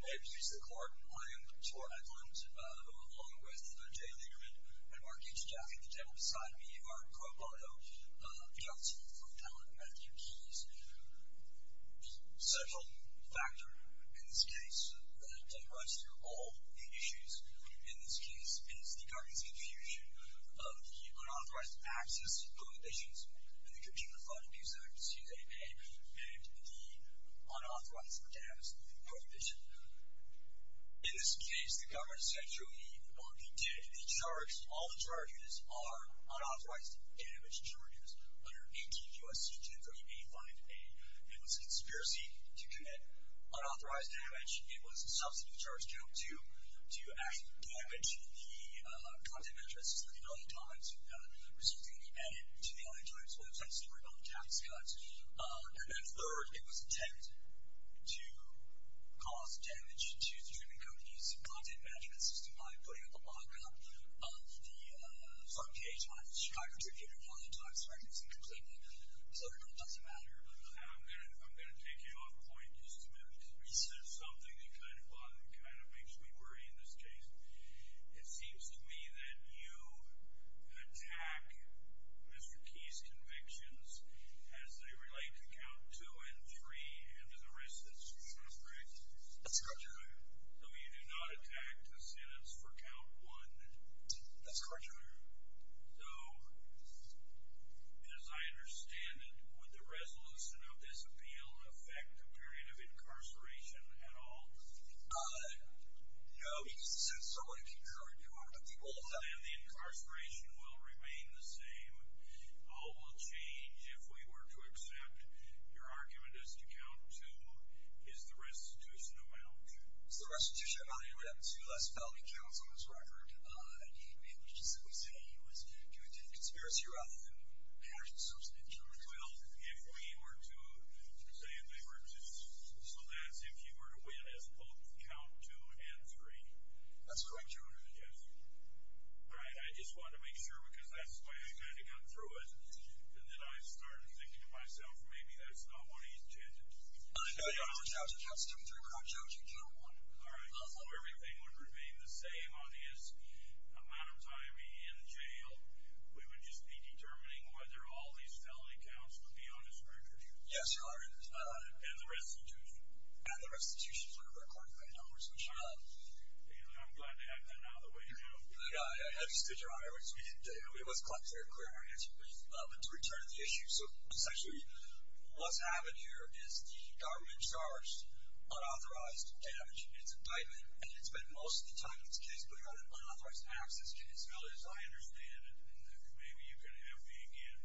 May it please the Court, I am Troy Edlund, along with Jay Lieberman and Mark H. Jaffee. The gentlemen beside me are, quote, by the way, V.L.T. from Allen and Matthew Keys. A central factor in this case that runs through all the issues in this case is the government's confusion of the unauthorized access prohibitions in the Community Fund Abuse Act, excuse me, and the unauthorized or damaged prohibition. In this case, the government essentially did the charge. All the charges are unauthorized damage charges under 18 U.S.C. 2385a. It was a conspiracy to commit unauthorized damage. It was a substantive charge due to actual damage to the content of addresses for the LA Times, resulting in the ad to the LA Times. So essentially, we're talking tax cuts. And then third, it was intent to cause damage to the streaming companies' content management system by putting up a mock-up of the front page on the Chicago Tribune or on the Times magazine completely. So I don't know. It doesn't matter. I'm going to take you off point just a minute because you said something that kind of makes me worry in this case. It seems to me that you attack Mr. Keys' convictions as they relate to count two and three and to the rest of the sentence. That's correct, Your Honor. So you do not attack the sentence for count one. That's correct, Your Honor. So, as I understand it, would the resolution of this appeal affect the period of incarceration at all? No, because the sentence is already concurred, Your Honor. And the incarceration will remain the same. All will change if we were to accept your argument as to count two. Is the restitution amount? It's the restitution amount. He would have two less felony counts on his record. He may have been able to simply say he was doing it in conspiracy rather than passion, so to speak. Well, if we were to say they were two, so that's if he were to win as both count two and three. That's correct, Your Honor. Yes. All right. I just wanted to make sure because that's the way I kind of got through it. And then I started thinking to myself, maybe that's not what he intended. No, Your Honor. So count two and three, but I'm counting count one. All right. So everything would remain the same on his amount of time he's in jail. We would just be determining whether all these felony counts would be on his record. Yes, Your Honor. And the restitution. And the restitution is one of our qualifying numbers, I'm sure. I'm glad to have that now that we're here. I understood, Your Honor. We must clarify our answer briefly. But to return to the issue, so essentially what's happened here is the government charged unauthorized damage. It's indictment, and it's spent most of the time in this case putting on unauthorized access to these felonies. I understand, and maybe you can have me again.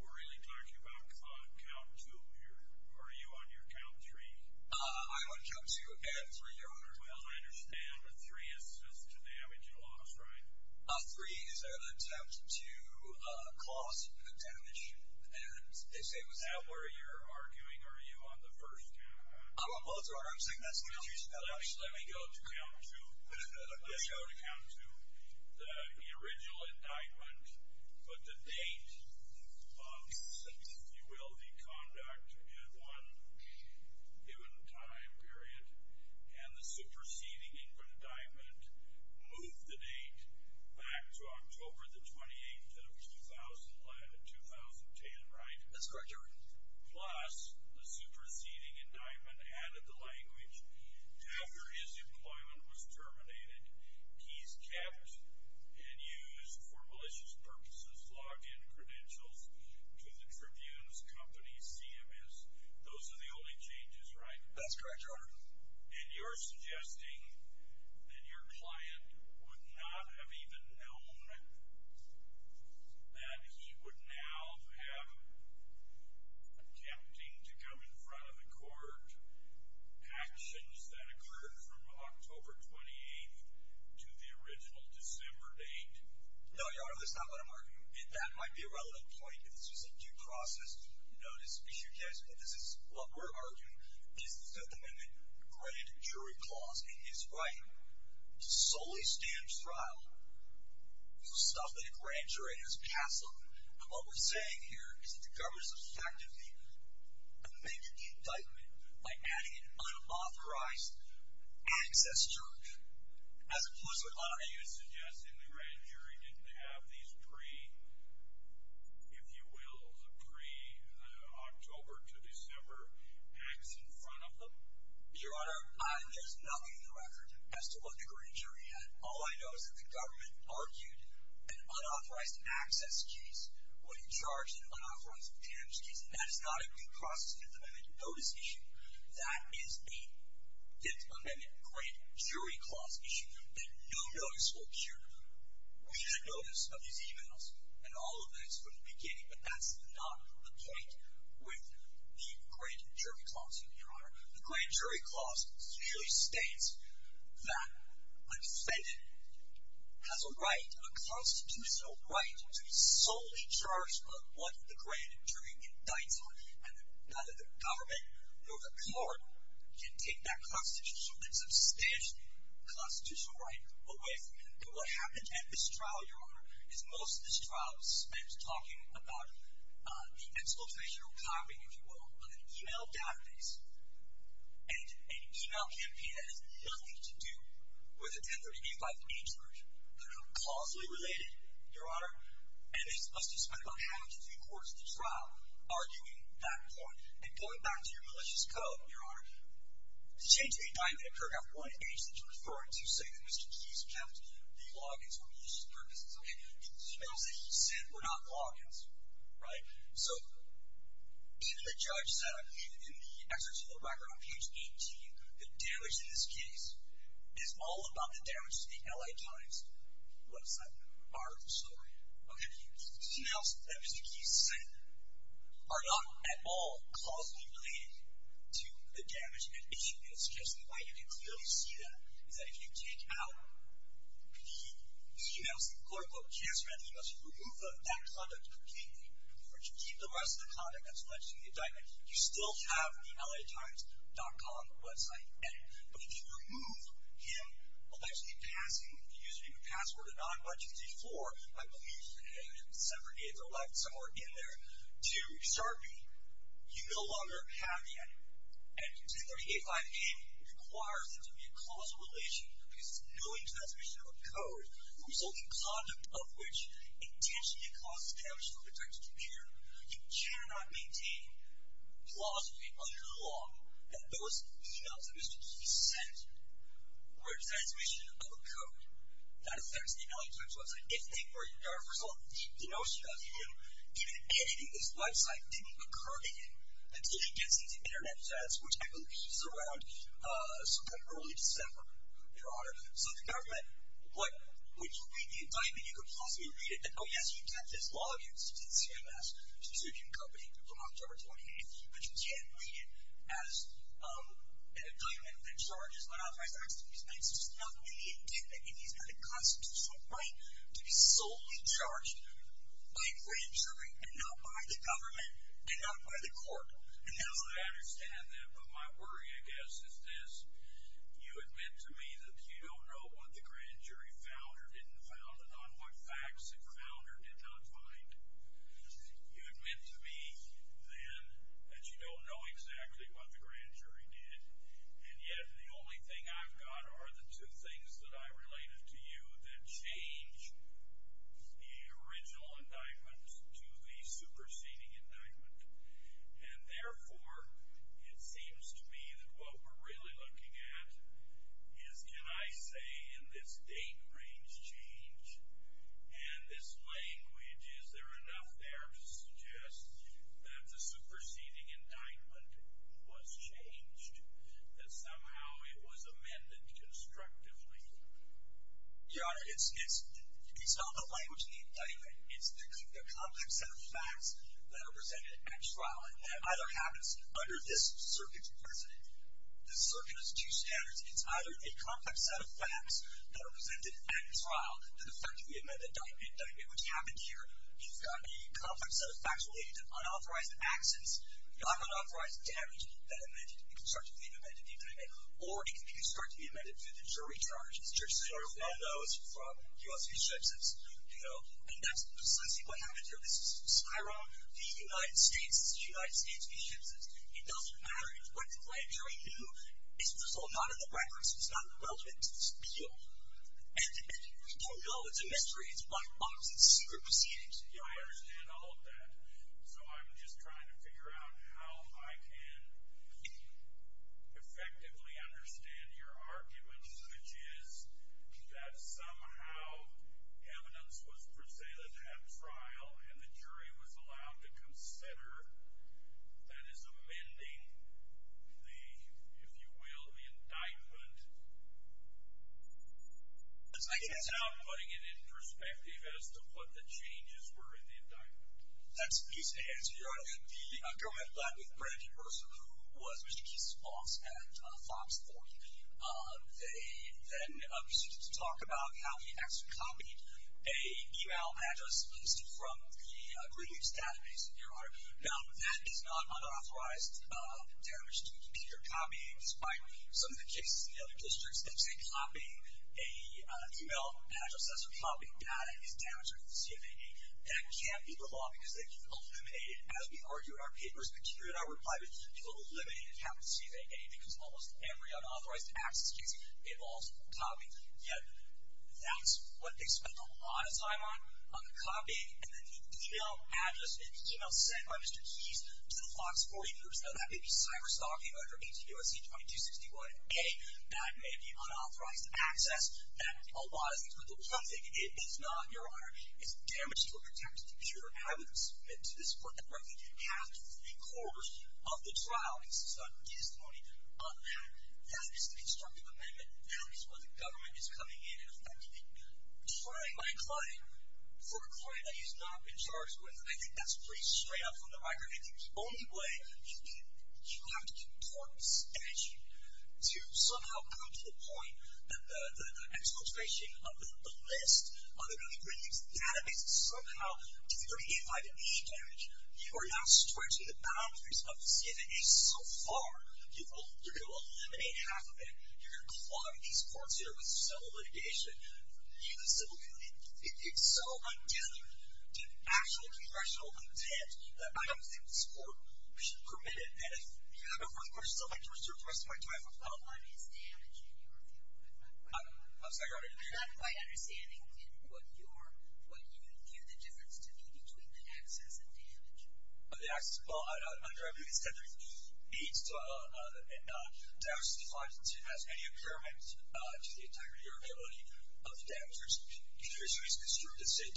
We're really talking about count two here. Are you on your count three? Well, I understand a three is just to damage a loss, right? A three is an attempt to cause damage. And is that where you're arguing? Are you on the first? I'm on both, Your Honor. I'm saying that's what you're spelling. Let me go to count two. Let's go to count two. The original indictment, but the date of, if you will, the conduct at one given time period, and the superseding indictment moved the date back to October the 28th of 2010, right? That's correct, Your Honor. Plus, the superseding indictment added the language, after his employment was terminated, he's kept and used for malicious purposes, logged in credentials to the Tribune's company, CMS. Those are the only changes, right? That's correct, Your Honor. And you're suggesting that your client would not have even known that he would now have, attempting to come in front of the court, actions that occurred from October 28th to the original December date? No, Your Honor, that's not what I'm arguing. That might be a relevant point, but this is a due process. This is what we're arguing. This is the Amendment to the Grand Jury Clause, and it's right to solely stand trial for stuff that a grand jury has passed on. What we're saying here is that the government has effectively amended the indictment by adding an unauthorized access charge. And you're suggesting the grand jury didn't have these pre, if you will, the pre-October to December acts in front of them? Your Honor, there's nothing in the record as to what the grand jury had. All I know is that the government argued an unauthorized access case when it charged an unauthorized attempts case. That is not a due process in the Amendment to the Notice Issue. That is the Fifth Amendment Grand Jury Clause Issue. And no notice will appear. We should notice of these e-mails and all of this from the beginning, but that's not the point with the Grand Jury Clause, Your Honor. The Grand Jury Clause usually states that a defendant has a right, a constitutional right to be solely charged by what the grand jury indicts on, and neither the government nor the court can take that constitutional, that substantial constitutional right away from him. But what happened at this trial, Your Honor, is most of this trial spent talking about the expulsation or covering, if you will, on an e-mail database, and an e-mail campaign that has nothing to do with the 1038-5-H version. They're not causally related, Your Honor, and it must be spent on having to do courts at the trial, arguing that point. And going back to your malicious code, Your Honor, to change the indictment paragraph 1H that you're referring to, you say that Mr. Chisholm kept the logins for malicious purposes. The e-mails that he sent were not logins, right? So even the judge said, even in the excerpt of the background on page 18, the damage in this case is all about the damage to the LA Times website. Okay, the e-mails that Mr. Keith sent are not at all causally related to the damage in that issue. And it suggests that why you can clearly see that, is that if you take out the e-mails that the court will just read, you must remove that content completely, or to keep the rest of the content that's alleged in the indictment. You still have the latimes.com website. But if you remove him allegedly passing, using the password of 91234, I believe the separate dates are left somewhere in there, to sharpie, you no longer have that. And 2385A requires there to be a causal relation, because knowing the transmission of a code, the resulting content of which intentionally causes damage to the LA Times computer, you cannot maintain plausibly under the law that those e-mails that Mr. Keith sent were a transmission of a code. That affects the LA Times website. If they were a result of a deep denunciation of the e-mail, even editing this website didn't occur to him until he gets his internet status, which I believe is around September, early December, Your Honor. So the government, would you read the indictment? You could plausibly read it. Oh, yes, you kept his log-ins to the CMS, the subscription company, from October 28th. But you can't read it as an indictment that charges one of my facts and these things. There's nothing in the indictment. He's got a constitutional right to be solely charged by a grand jury and not by the government and not by the court. I understand that. But my worry, I guess, is this. You admit to me that you don't know what the grand jury found or didn't find, and on what facts it found or did not find. You admit to me, then, that you don't know exactly what the grand jury did, and yet the only thing I've got are the two things that I related to you that change the original indictment to the superseding indictment. And therefore, it seems to me that what we're really looking at is, can I say in this date range change and this language, is there enough there to suggest that the superseding indictment was changed, that somehow it was amended constructively? Your Honor, it's not the language in the indictment. It's the complex set of facts that are presented at trial, and that either happens under this circuit's precedent. The circuit has two standards. It's either a complex set of facts that are presented at trial, and the fact that we admit the indictment, which happened here, you've got a complex set of facts related to unauthorized actions, not unauthorized damage that can be constructedly amended in the indictment, or it can be constructively amended through the jury charge. The jury charge is one of those from U.S. v. Simpson's. And that's precisely what happened here. This is Cairo, the United States, the United States v. Simpson's. It doesn't matter. What the grand jury knew is resolved not in the records. It's not relevant to this appeal. And you don't know. It's a mystery. It's black box and secret proceedings. Yeah, I understand all of that. So I'm just trying to figure out how I can effectively understand your arguments, which is that somehow evidence was presented at trial, and the jury was allowed to consider that as amending the, if you will, the indictment. I can't help putting it in perspective as to what the changes were in the indictment. That's an easy answer, Your Honor. The girl who had a flat with Brenda DeRosa, who was Mr. Keith's boss at Fox 40, they then proceeded to talk about how he actually copied a e-mail address listed from the Greenwich database, Your Honor. Now, that is not unauthorized damage to the computer copy, despite some of the cases in the other districts that say copying a e-mail address that's a copy, that is damage to the CFAA. That can't be the law because they can eliminate it. As we argue in our papers, material in our reply was to eliminate a copy of the CFAA because almost every unauthorized access case involves copying. Yet that's what they spent a lot of time on, on the copying, and then the e-mail address, the e-mail sent by Mr. Keith to the Fox 40 groups. Now, that may be cyberstalking under 18 U.S.C. 2261-A. That may be unauthorized access. That, although I think it's a little cryptic, it is not, Your Honor. It's damage to a computer. I would submit to this court that Brenda can have three-quarters of the trial. This is a testimony of that. That is the constructive amendment. That is where the government is coming in and effectively trying my client for a client that he's not been charged with. I think that's pretty straight up from the record. I think the only way you have to get court inspection to somehow come to the point that the exfiltration of the list of the really brilliant database is somehow deterring it by the e-damage, you are not stretching the boundaries of the CFAA so far. You're going to eliminate half of it. You're going to clog these courts here with civil litigation, even civil county. It's so untethered to actual congressional intent that I don't think this court should permit it. And if you have a further question, I'd like to resume the rest of my time. Well, one is damage in your view. I'm sorry, Your Honor. I'm not quite understanding what you view the difference to be between the access and damage. The access, well, I don't know. I mean, it's technically needs to, and damage is defined as any impairment to the integrity or ability of the damage. If you assume it's construed as, say, a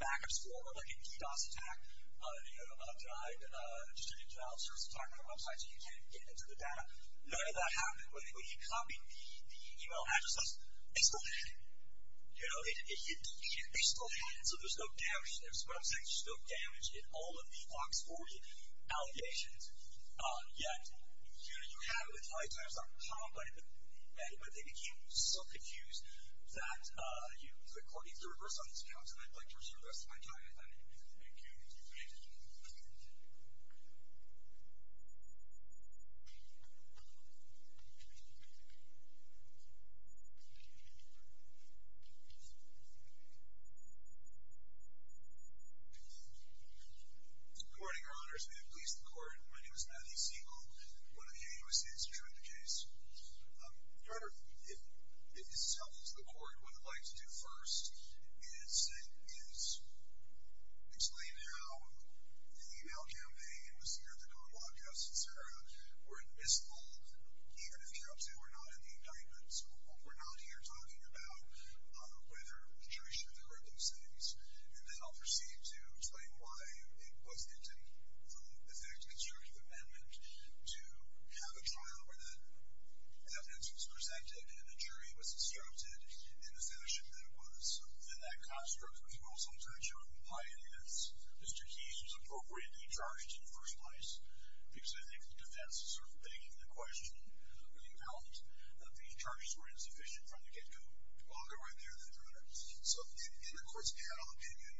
backup score or a DDoS attack, just a new trial starts attacking our website so you can't get into the data. None of that happened. When you come in, the email address says, it's still hidden. It's still hidden, so there's no damage. There's, what I'm saying, there's no damage in all of the Fox 40 allegations. Yet, you have it with high-tiers that are complaining, but they became so confused that the court needs to reverse all these accounts, and I'd like to reserve the rest of my time. Thank you. Thank you. Good morning, Your Honors. May it please the Court. My name is Matthew Siegel, one of the AUSA's who drew up the case. Your Honor, if this is helpful to the Court, what I'd like to do first is explain how the email campaign was cleared, the con law custody, et cetera, were in the misfold, even if the cops who were not in the indictment. So we're not here talking about whether the jury should have heard those things. And then I'll proceed to explain why it was intended for the effective constructive amendment to have a trial where the evidence was presented and the jury was asserted in the fashion that it was. And that construct was also in touch with the pioneers. Mr. Keyes was appropriately charged in the first place because I think the defense is sort of begging the question of the account that the charges were insufficient from the get-go. I'll get right there in a minute. So in the court's panel opinion,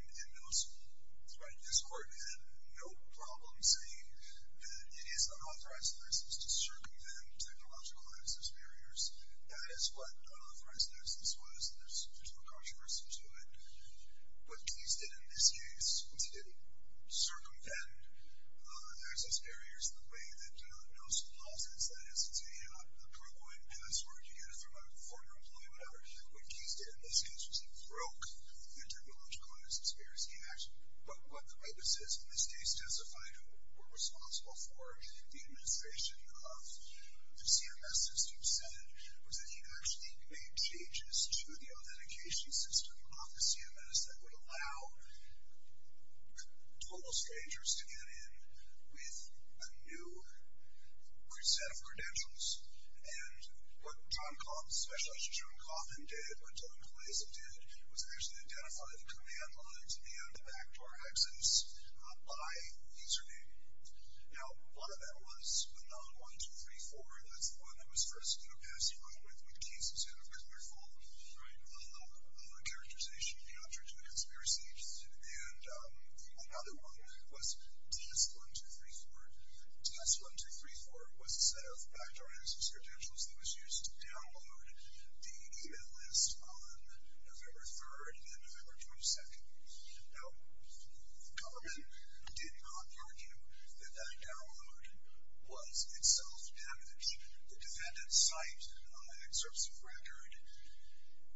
this Court had no problem saying that it is unauthorized in this instance to circumvent technological access barriers. That is what unauthorized in this instance was, and there's no controversy to it. What Keyes did in this case was to circumvent access barriers in the way that Nelson calls it. That is to say, you have a ProCoin password, you get it from a former employee, whatever. What Keyes did in this case was he broke the technological access barriers he had. But what the witnesses in this case testified who were responsible for the administration of the CMS system said was that he actually made changes to the authentication system of the CMS that would allow total strangers to get in with a new set of credentials. And what John Coffin, Specialist John Coffin did, what John Clason did was actually identify the command lines and the backdoor access by username. Now, a lot of that was a non-1234. That's the one that was first passed around with Keyes in a colorful characterization of the objects we received. And another one was DS1234. DS1234 was a set of backdoor access credentials that was used to download the email list on November 3rd and then November 22nd. Now, the government did not argue that that download was itself damaged. The defendant cited an excerpt of record,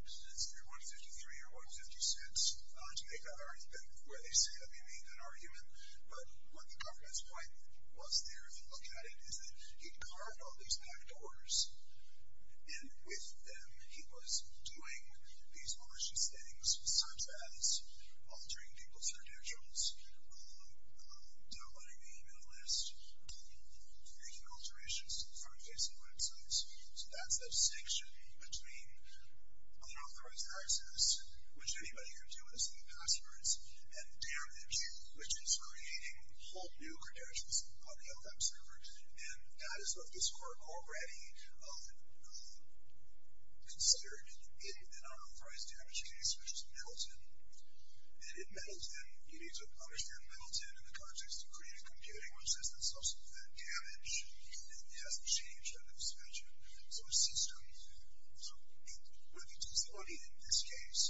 let's see, 153 or 156, to make an argument, where they say that they made an argument. But what the government's point was there, if you look at it, is that he carved all these backdoors, and with them he was doing these malicious things such as altering people's credentials, downloading the email list, making alterations to the front page of websites. So that's a distinction between unauthorized access, which anybody can do with a set of passwords, and damn it, which is creating whole new credentials on the FM server. And that is what this court already considered in an unauthorized damage case, which is Middleton. And in Middleton, you need to understand Middleton in the context of creative computing, which says that it's also to prevent damage, and it hasn't changed under this measure. So a system, with utility in this case,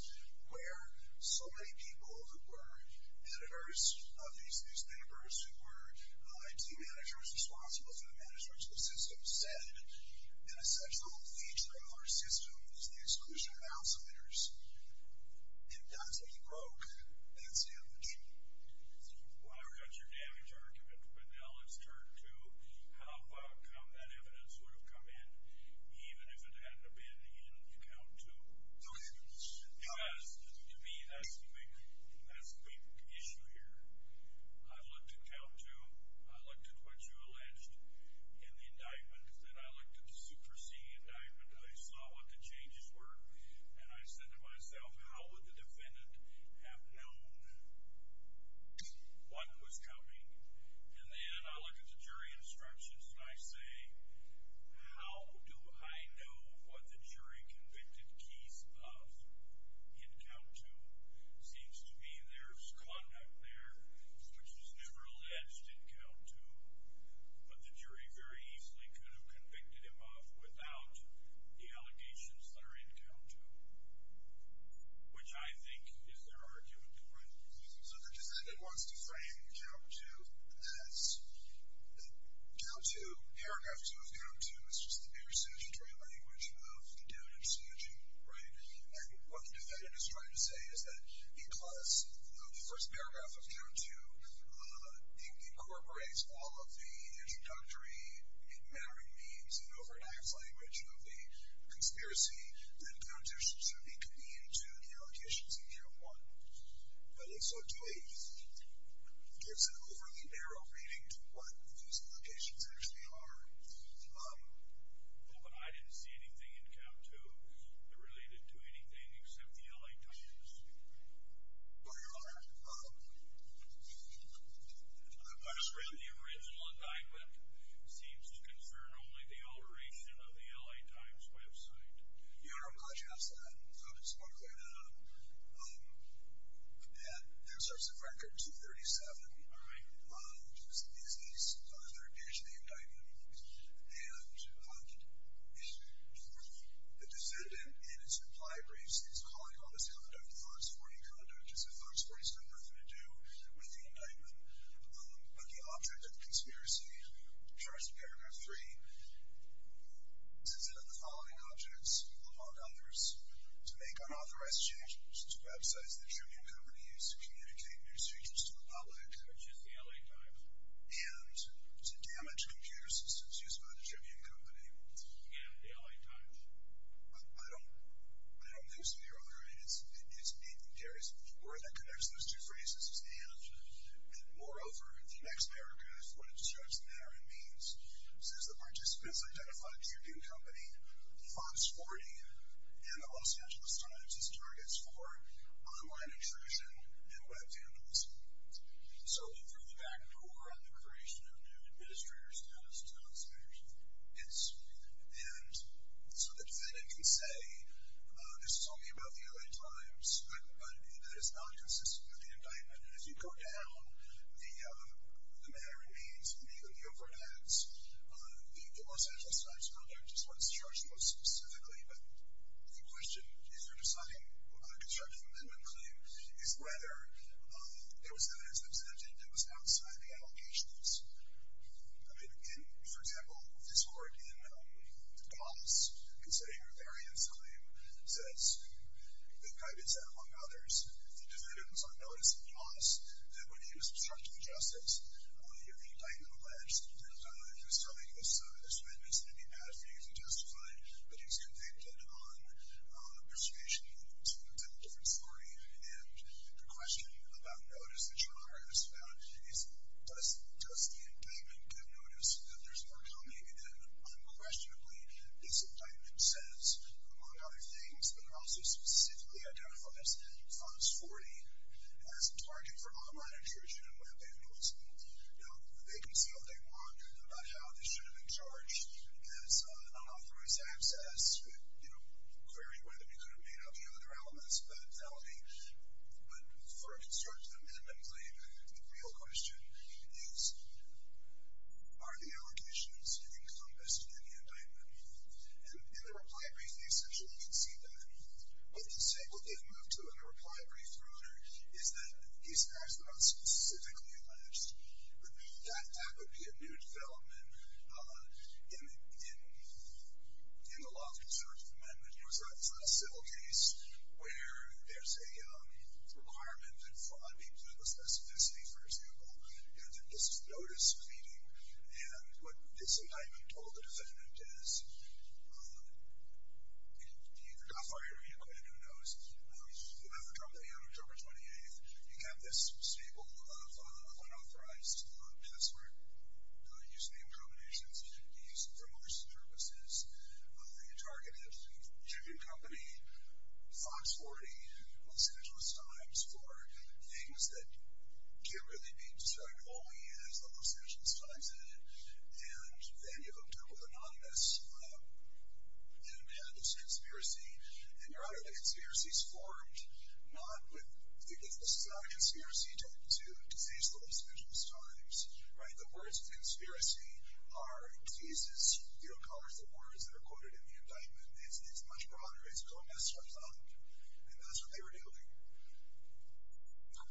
where so many people who were editors of these newspapers, who were IT managers, responsible for the management of the system, said that a central feature of our system is the exclusion of outsiders. And that's what he broke. That's damage. Well, there goes your damage argument. But now let's turn to how come that evidence would have come in even if it hadn't been in the account, too. Okay. Because to me, that's the big issue here. I looked at count two. I looked at what you alleged in the indictment. Then I looked at the Super C indictment, and I saw what the changes were. And I said to myself, how would the defendant have known what was coming? And then I look at the jury instructions, and I say, how do I know what the jury convicted Keith of in count two? It seems to me there's conduct there, which was never alleged in count two, but the jury very easily could have convicted him of without the allegations that are in count two, which I think is their argument for it. So the defendant wants to frame count two as that count two, paragraph two of count two, is just the new synergy, the new language of the doubt and synergy, right? And what the defendant is trying to say is that, because the first paragraph of count two incorporates all of the introductory and mattering means and over-enacted language of the conspiracy, then count two should be convenient to the allegations in count one. I think so, too. It gives an overly narrow reading to what these allegations actually are. Well, but I didn't see anything in count two that related to anything except the L.A. Times. Well, Your Honor, the question... The original indictment seems to concern only the alteration of the L.A. Times website. Your Honor, I'm glad you asked that. It's more clear than I thought. That inserts the record 237... All right. ...which is the disease, so there's an addition to the indictment, and for the defendant in its implied race, he's calling all this conduct Fox 40 conduct, so Fox 40's got nothing to do with the indictment. But the object of the conspiracy, charged in paragraph three, says that of the following objects, among others, to make unauthorized changes to websites that your new company used to communicate news features to the public... Which is the L.A. Times. ...and to damage computer systems used by the Tribune Company. Yeah, the L.A. Times. I don't think so, Your Honor. I mean, it carries a key word that connects those two phrases, and moreover, in the next paragraph, what it says there, it means, since the participants identified Tribune Company, Fox 40, and the Los Angeles Times as targets for online intrusion and web vandalism. So through the backdoor on the creation of new administrator status, it's not as clear as it is. And so the defendant can say, this is only about the L.A. Times, but that is not consistent with the indictment. And as you go down the matter, it means, and even the overheads, the Los Angeles Times conduct is what's charged most specifically, but the question, if you're deciding a constructive amendment claim, is whether there was evidence that presented that was outside the allocations. I mean, in, for example, this court in Goss, in setting up a variance claim, says, the indictment said, among others, the defendant was on notice in Goss that when he was obstructing justice, the indictment alleged that he was telling his witness that he had a few to justify, but he was convicted on persecution to a different story. And the question about notice, the charge is about, does the indictment give notice that there's more coming? And unquestionably, this indictment says, among other things, but it also specifically identifies funds 40 as a target for online intrusion and web payments. Now, they can say what they want about how this should have been charged as unauthorized access, but, you know, query whether we could have made up the other elements of that felony. But for a constructive amendment claim, the real question is, are the allocations encompassed in the indictment? And in the reply brief, they essentially concede that. What they say, what they've moved to in the reply brief, rather, is that these facts were not specifically alleged. That would be a new development in the law of conservative amendment. It was a civil case where there's a requirement that fraud be put with specificity, for example. And that this is notice-feeding. And what this indictment told the defendant is, you either got fired or you quit, who knows, whoever dropped the hand on October 28th became this stable of unauthorized password using the incriminations used for most purposes. You targeted a chicken company, Fox 40, Los Angeles Times, for things that can't really be described only as the Los Angeles Times did. And then you hooked up with anonymous and had this conspiracy. And you're out of the conspiracies formed, not with, because this is not a conspiracy tied to the Los Angeles Times. The words conspiracy are diseases. You don't color the words that are quoted in the indictment. It's much broader. It's going as far as I'm concerned. And that's what they were doing. I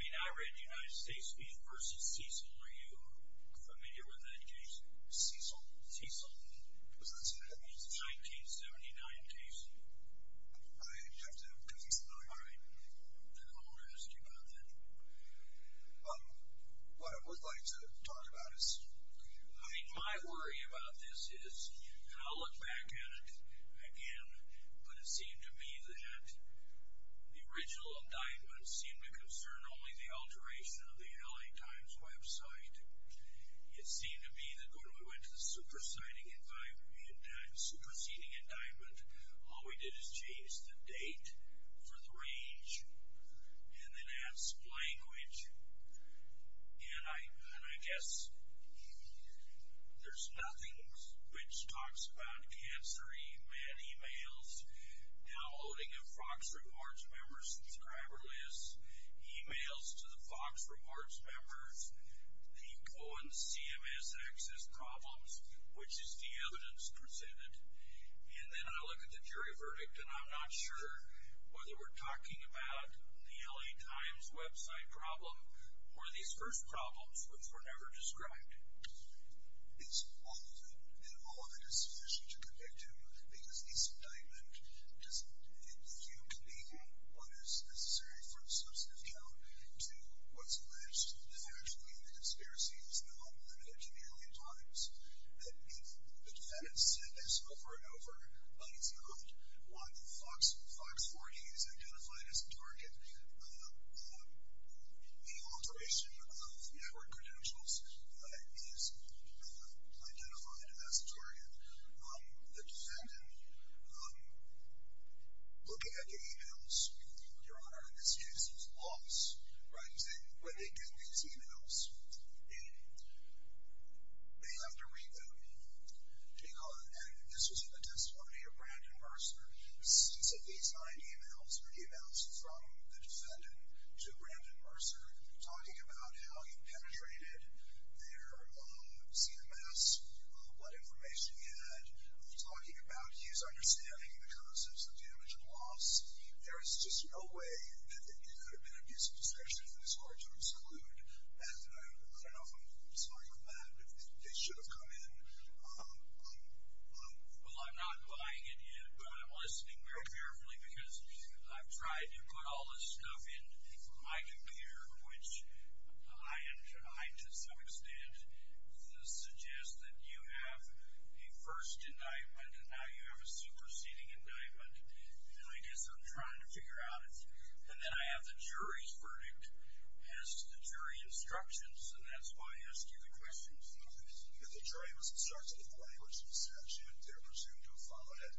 mean, I read the United States v. Cecil. Are you familiar with that case? Cecil? Cecil? It's a 1979 case. I have to have a copy of that. All right. Then I'll ask you about that. What I would like to talk about is... I think my worry about this is, and I'll look back at it again, but it seemed to me that the original indictment seemed to concern only the alteration of the L.A. Times website. It seemed to me that when we went to the superseding indictment, all we did is change the date for the range and then add some language. And I guess... there's nothing which talks about cancer emails, downloading of Fox Reports members' subscriber lists, emails to the Fox Reports members, the Cohen CMS access problems, which is the evidence presented. And then I look at the jury verdict, and I'm not sure whether we're talking about the L.A. Times website problem or these first problems, which were never described. It's all of it, and all of it is sufficient to connect to, because this indictment doesn't infuse me in what is necessary for a substantive count to what's alleged to have actually been a conspiracy. It was known a million times that the defendant said this over and over, but it's not. While Fox 40 is identified as the target, the alteration of network credentials is identified as the target. The defendant... looking at the emails, your Honor, this seems lost, right? When they get these emails, they have to read them. And this was in the testimony of Brandon Mercer. He sent these nine emails, emails from the defendant to Brandon Mercer, talking about how he penetrated their CMS, what information he had, talking about his understanding of the concepts of damage and loss. There is just no way that it could have been an abuse of possession that is hard to exclude. And I don't know if I'm starting from that, but it should have come in. Well, I'm not buying it yet, but I'm listening very carefully, because I've tried to put all this stuff in my computer, which I, to some extent, suggest that you have a first indictment, and now you have a superseding indictment. And I guess I'm trying to figure out... And then I have the jury's verdict as to the jury instructions, and that's why I asked you the questions. The jury was instructed in the language of the statute. They're presumed to have followed it.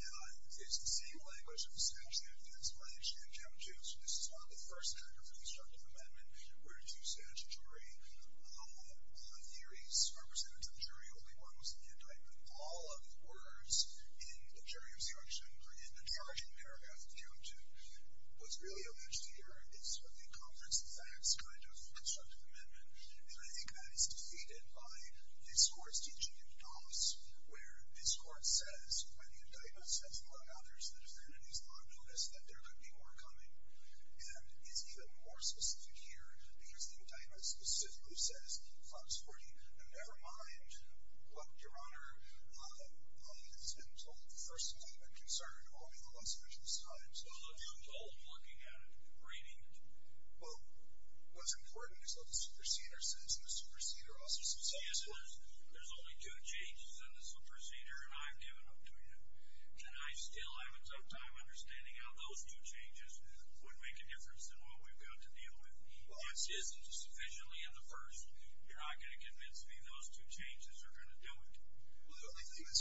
Now, it's the same language of the statute, that's why they changed it up, too. So this is not the first act of the Constructive Amendment. We're a two-statute jury. All of the theories are presented to the jury. Only one was in the indictment. All of the words in the jury instruction, or in the charging paragraph, if you have to, was really alleged here. It's sort of a conference of facts kind of Constructive Amendment. And I think that is defeated by this Court's teaching in Doss, where this Court says, when the indictment says, among others, that if entities are noticed, that there could be more coming. And it's even more specific here, because the indictment specifically says, Fox 40, never mind what Your Honor has been told. The first indictment concerned only the Los Angeles Times. Well, if you're told, I'm looking at it, reading it. Well, what's important is what the superseder says, and the superseder also says something else. Yes, there's only two changes in the superseder, and I've given them to you. And I still have a tough time understanding how those two changes would make a difference in what we've got to deal with. If this isn't sufficiently in the first, you're not going to convince me those two changes are going to do it. Well, the only thing is,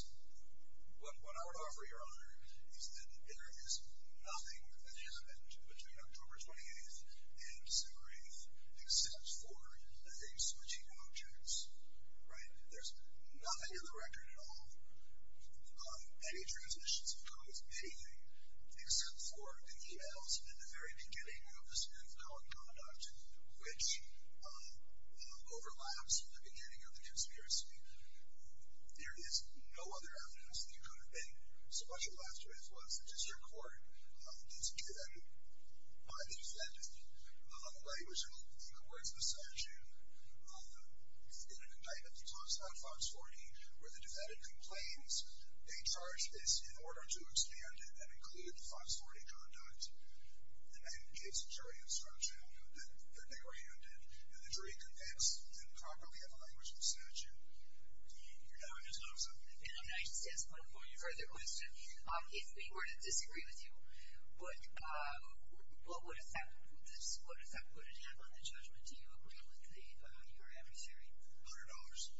what I would offer Your Honor, is that there is nothing that happened between October 28th and December 8th, except for a switching of objects. Right? There's nothing in the record at all, any transitions of codes, anything, except for the e-mails in the very beginning of the sentence called conduct, which overlaps with the beginning of the conspiracy. There is no other evidence that you could have been, especially last year as well, such as your court, that's given by the defendant, language in the words of the statute, in a indictment that talks about FOX 40, where the defendant complains they charged this in order to expand it and include FOX 40 conduct, and that indicates a jury instruction that they were handed, and the jury convinced and properly have a language of the statute. Your Honor, I just have one more further question. If we were to disagree with you, what does that put at hand on the judgment? Do you agree with your adversary? $100.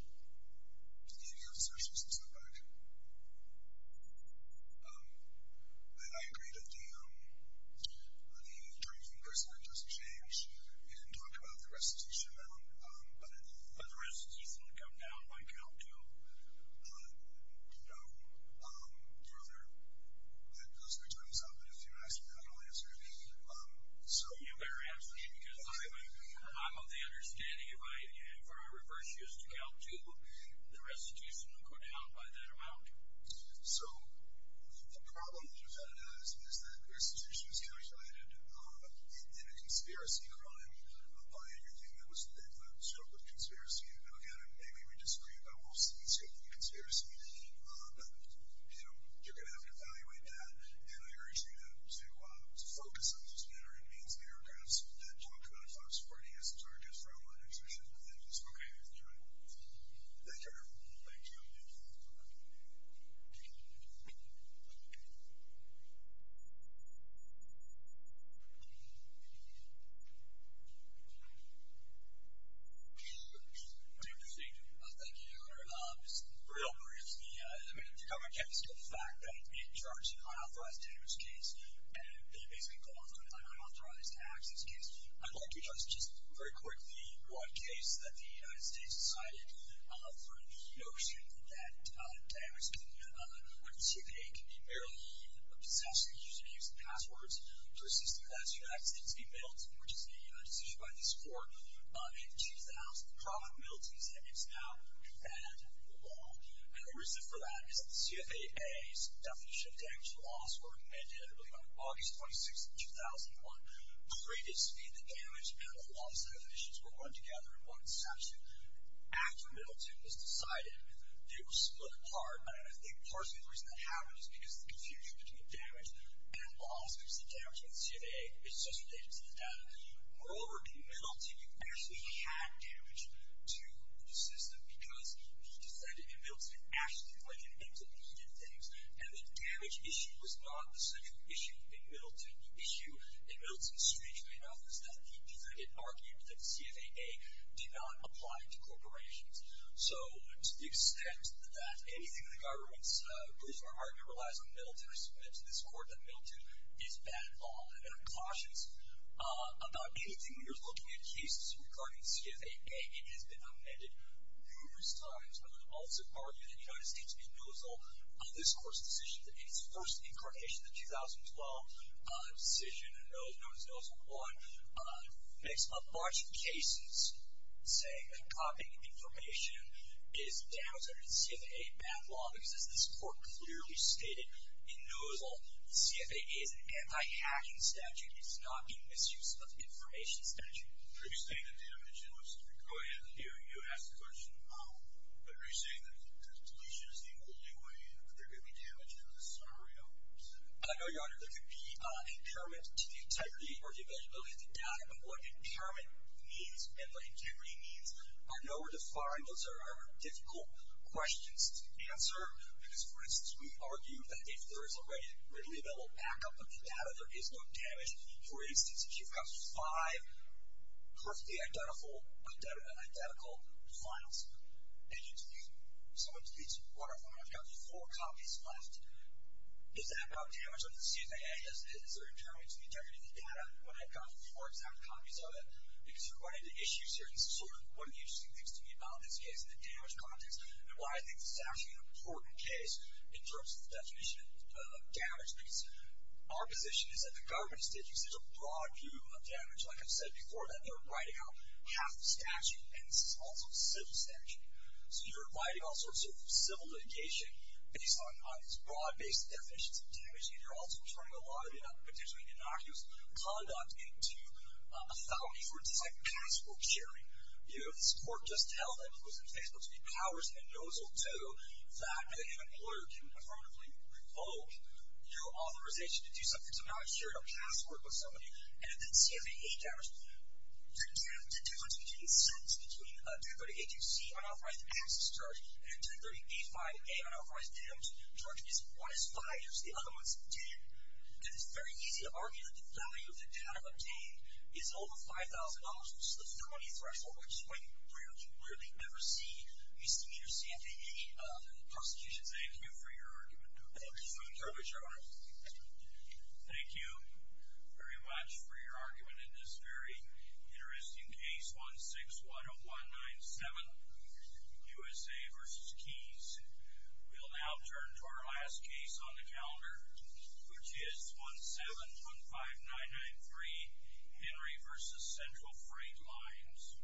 Do you have any observations to the fact that I agree that the jury conclusion does change and talk about the restitution amount, but the restitution would come down if I could help to know further that those returns of it, if you ask me that, I'll answer it. You better ask me, because I'm of the understanding if I reverse used Cal 2, the restitution would come down by that amount. So, the problem that the defendant has is that the restitution is calculated in a conspiracy crime, a stroke of conspiracy, and again, maybe we disagree, but we'll see. But you're going to have to evaluate that, and I urge you to focus on this matter and meet with your counsel and talk to them and find supporting answers Thank you, Your Honor. Thank you, Your Honor. Thank you, Your Honor. Just real briefly, the government kept the fact that it charged an unauthorized damage case and they basically go on to an unauthorized access case. I'd like to touch just very quickly on the one case that the United States decided for the notion that damage within the CFAA can be merely a possession and you should use the passwords to assist with that. So that seems to be Milton, which is a decision by this court The problem with Milton is that it's now banned in the law. And the reason for that is that the CFAA's definition of damage and loss were amended on August 26, 2001. Previously, the damage and the loss definitions were one together in one section. After Milton was decided, they were split apart and I think part of the reason that happened is because the confusion between damage and loss because the damage in the CFAA is just related to the data. Moreover, in Milton, you actually had damage to the system because he decided in Milton, it actually was related to the data and the damage issue was not the central issue in Milton. The issue in Milton, strangely enough, is that he argued that the CFAA did not apply to corporations. So to the extent that anything the government believes or argues relies on Milton, in respect to this court, that Milton is bad in law. And I'm cautious about anything that you're looking at in cases regarding the CFAA. It has been amended numerous times, but I would also argue that the United States can nozzle this court's decision in its first incarnation in 2012 the decision known as Nozzle 1 makes a bunch of cases saying that copying information is damaging to the CFAA bad law, because as this court clearly stated in Nozzle, the CFAA is an anti-hacking statute it's not a misuse of information statute. Are you saying that damage and loss... Go ahead. You ask the question. Are you saying that deletion is the only way in or there could be damage in the summary of the statute? No, your honor, there could be impairment to the integrity or the availability of the data, but what impairment means and what integrity means are nowhere defined. Those are difficult questions to answer because, for instance, we argue that if there is a readily available backup of the data, there is no damage. For instance, if you've got five perfectly identical files, and you submit to the court, I've got four copies left is that about damage to the CFAA? Is there impairment to the integrity of the data when I've got four exact copies of it? Because you're going to issue certain sort of, one of the interesting things to me about this case in the damage context, and why I think this is actually an important case in terms of the definition of damage because our position is that the government is taking such a broad view of damage, like I've said before, that they're writing out half the statute, and this is also a civil statute. So you're writing all sorts of civil litigation based on these broad-based definitions of damage and you're also turning a lot of potentially innocuous conduct into a felony for, for instance, like passbook sharing. You know, this court just held that it was infallible to be powers and no's will do that if an employer can affirmatively revoke your authorization to do something, so now I've shared a passbook with somebody, and the CFAA damaged me. The difference between sentence, between 238-C unauthorized access charge, and 1030-85-A unauthorized damage charges, one is 5 years, the other one's 10, and it's very easy to argue that the value of the damage obtained is over $5,000 which is the felony threshold, which is quite rare, you rarely ever see, you see in your CFAA prosecution. Thank you for your argument. Thank you very much, Your Honor. Thank you very much for your argument in this very interesting case, 1610197 USA v. Keys We'll now turn to our last case on the calendar which is 1715993 Henry v. Central Freight Lines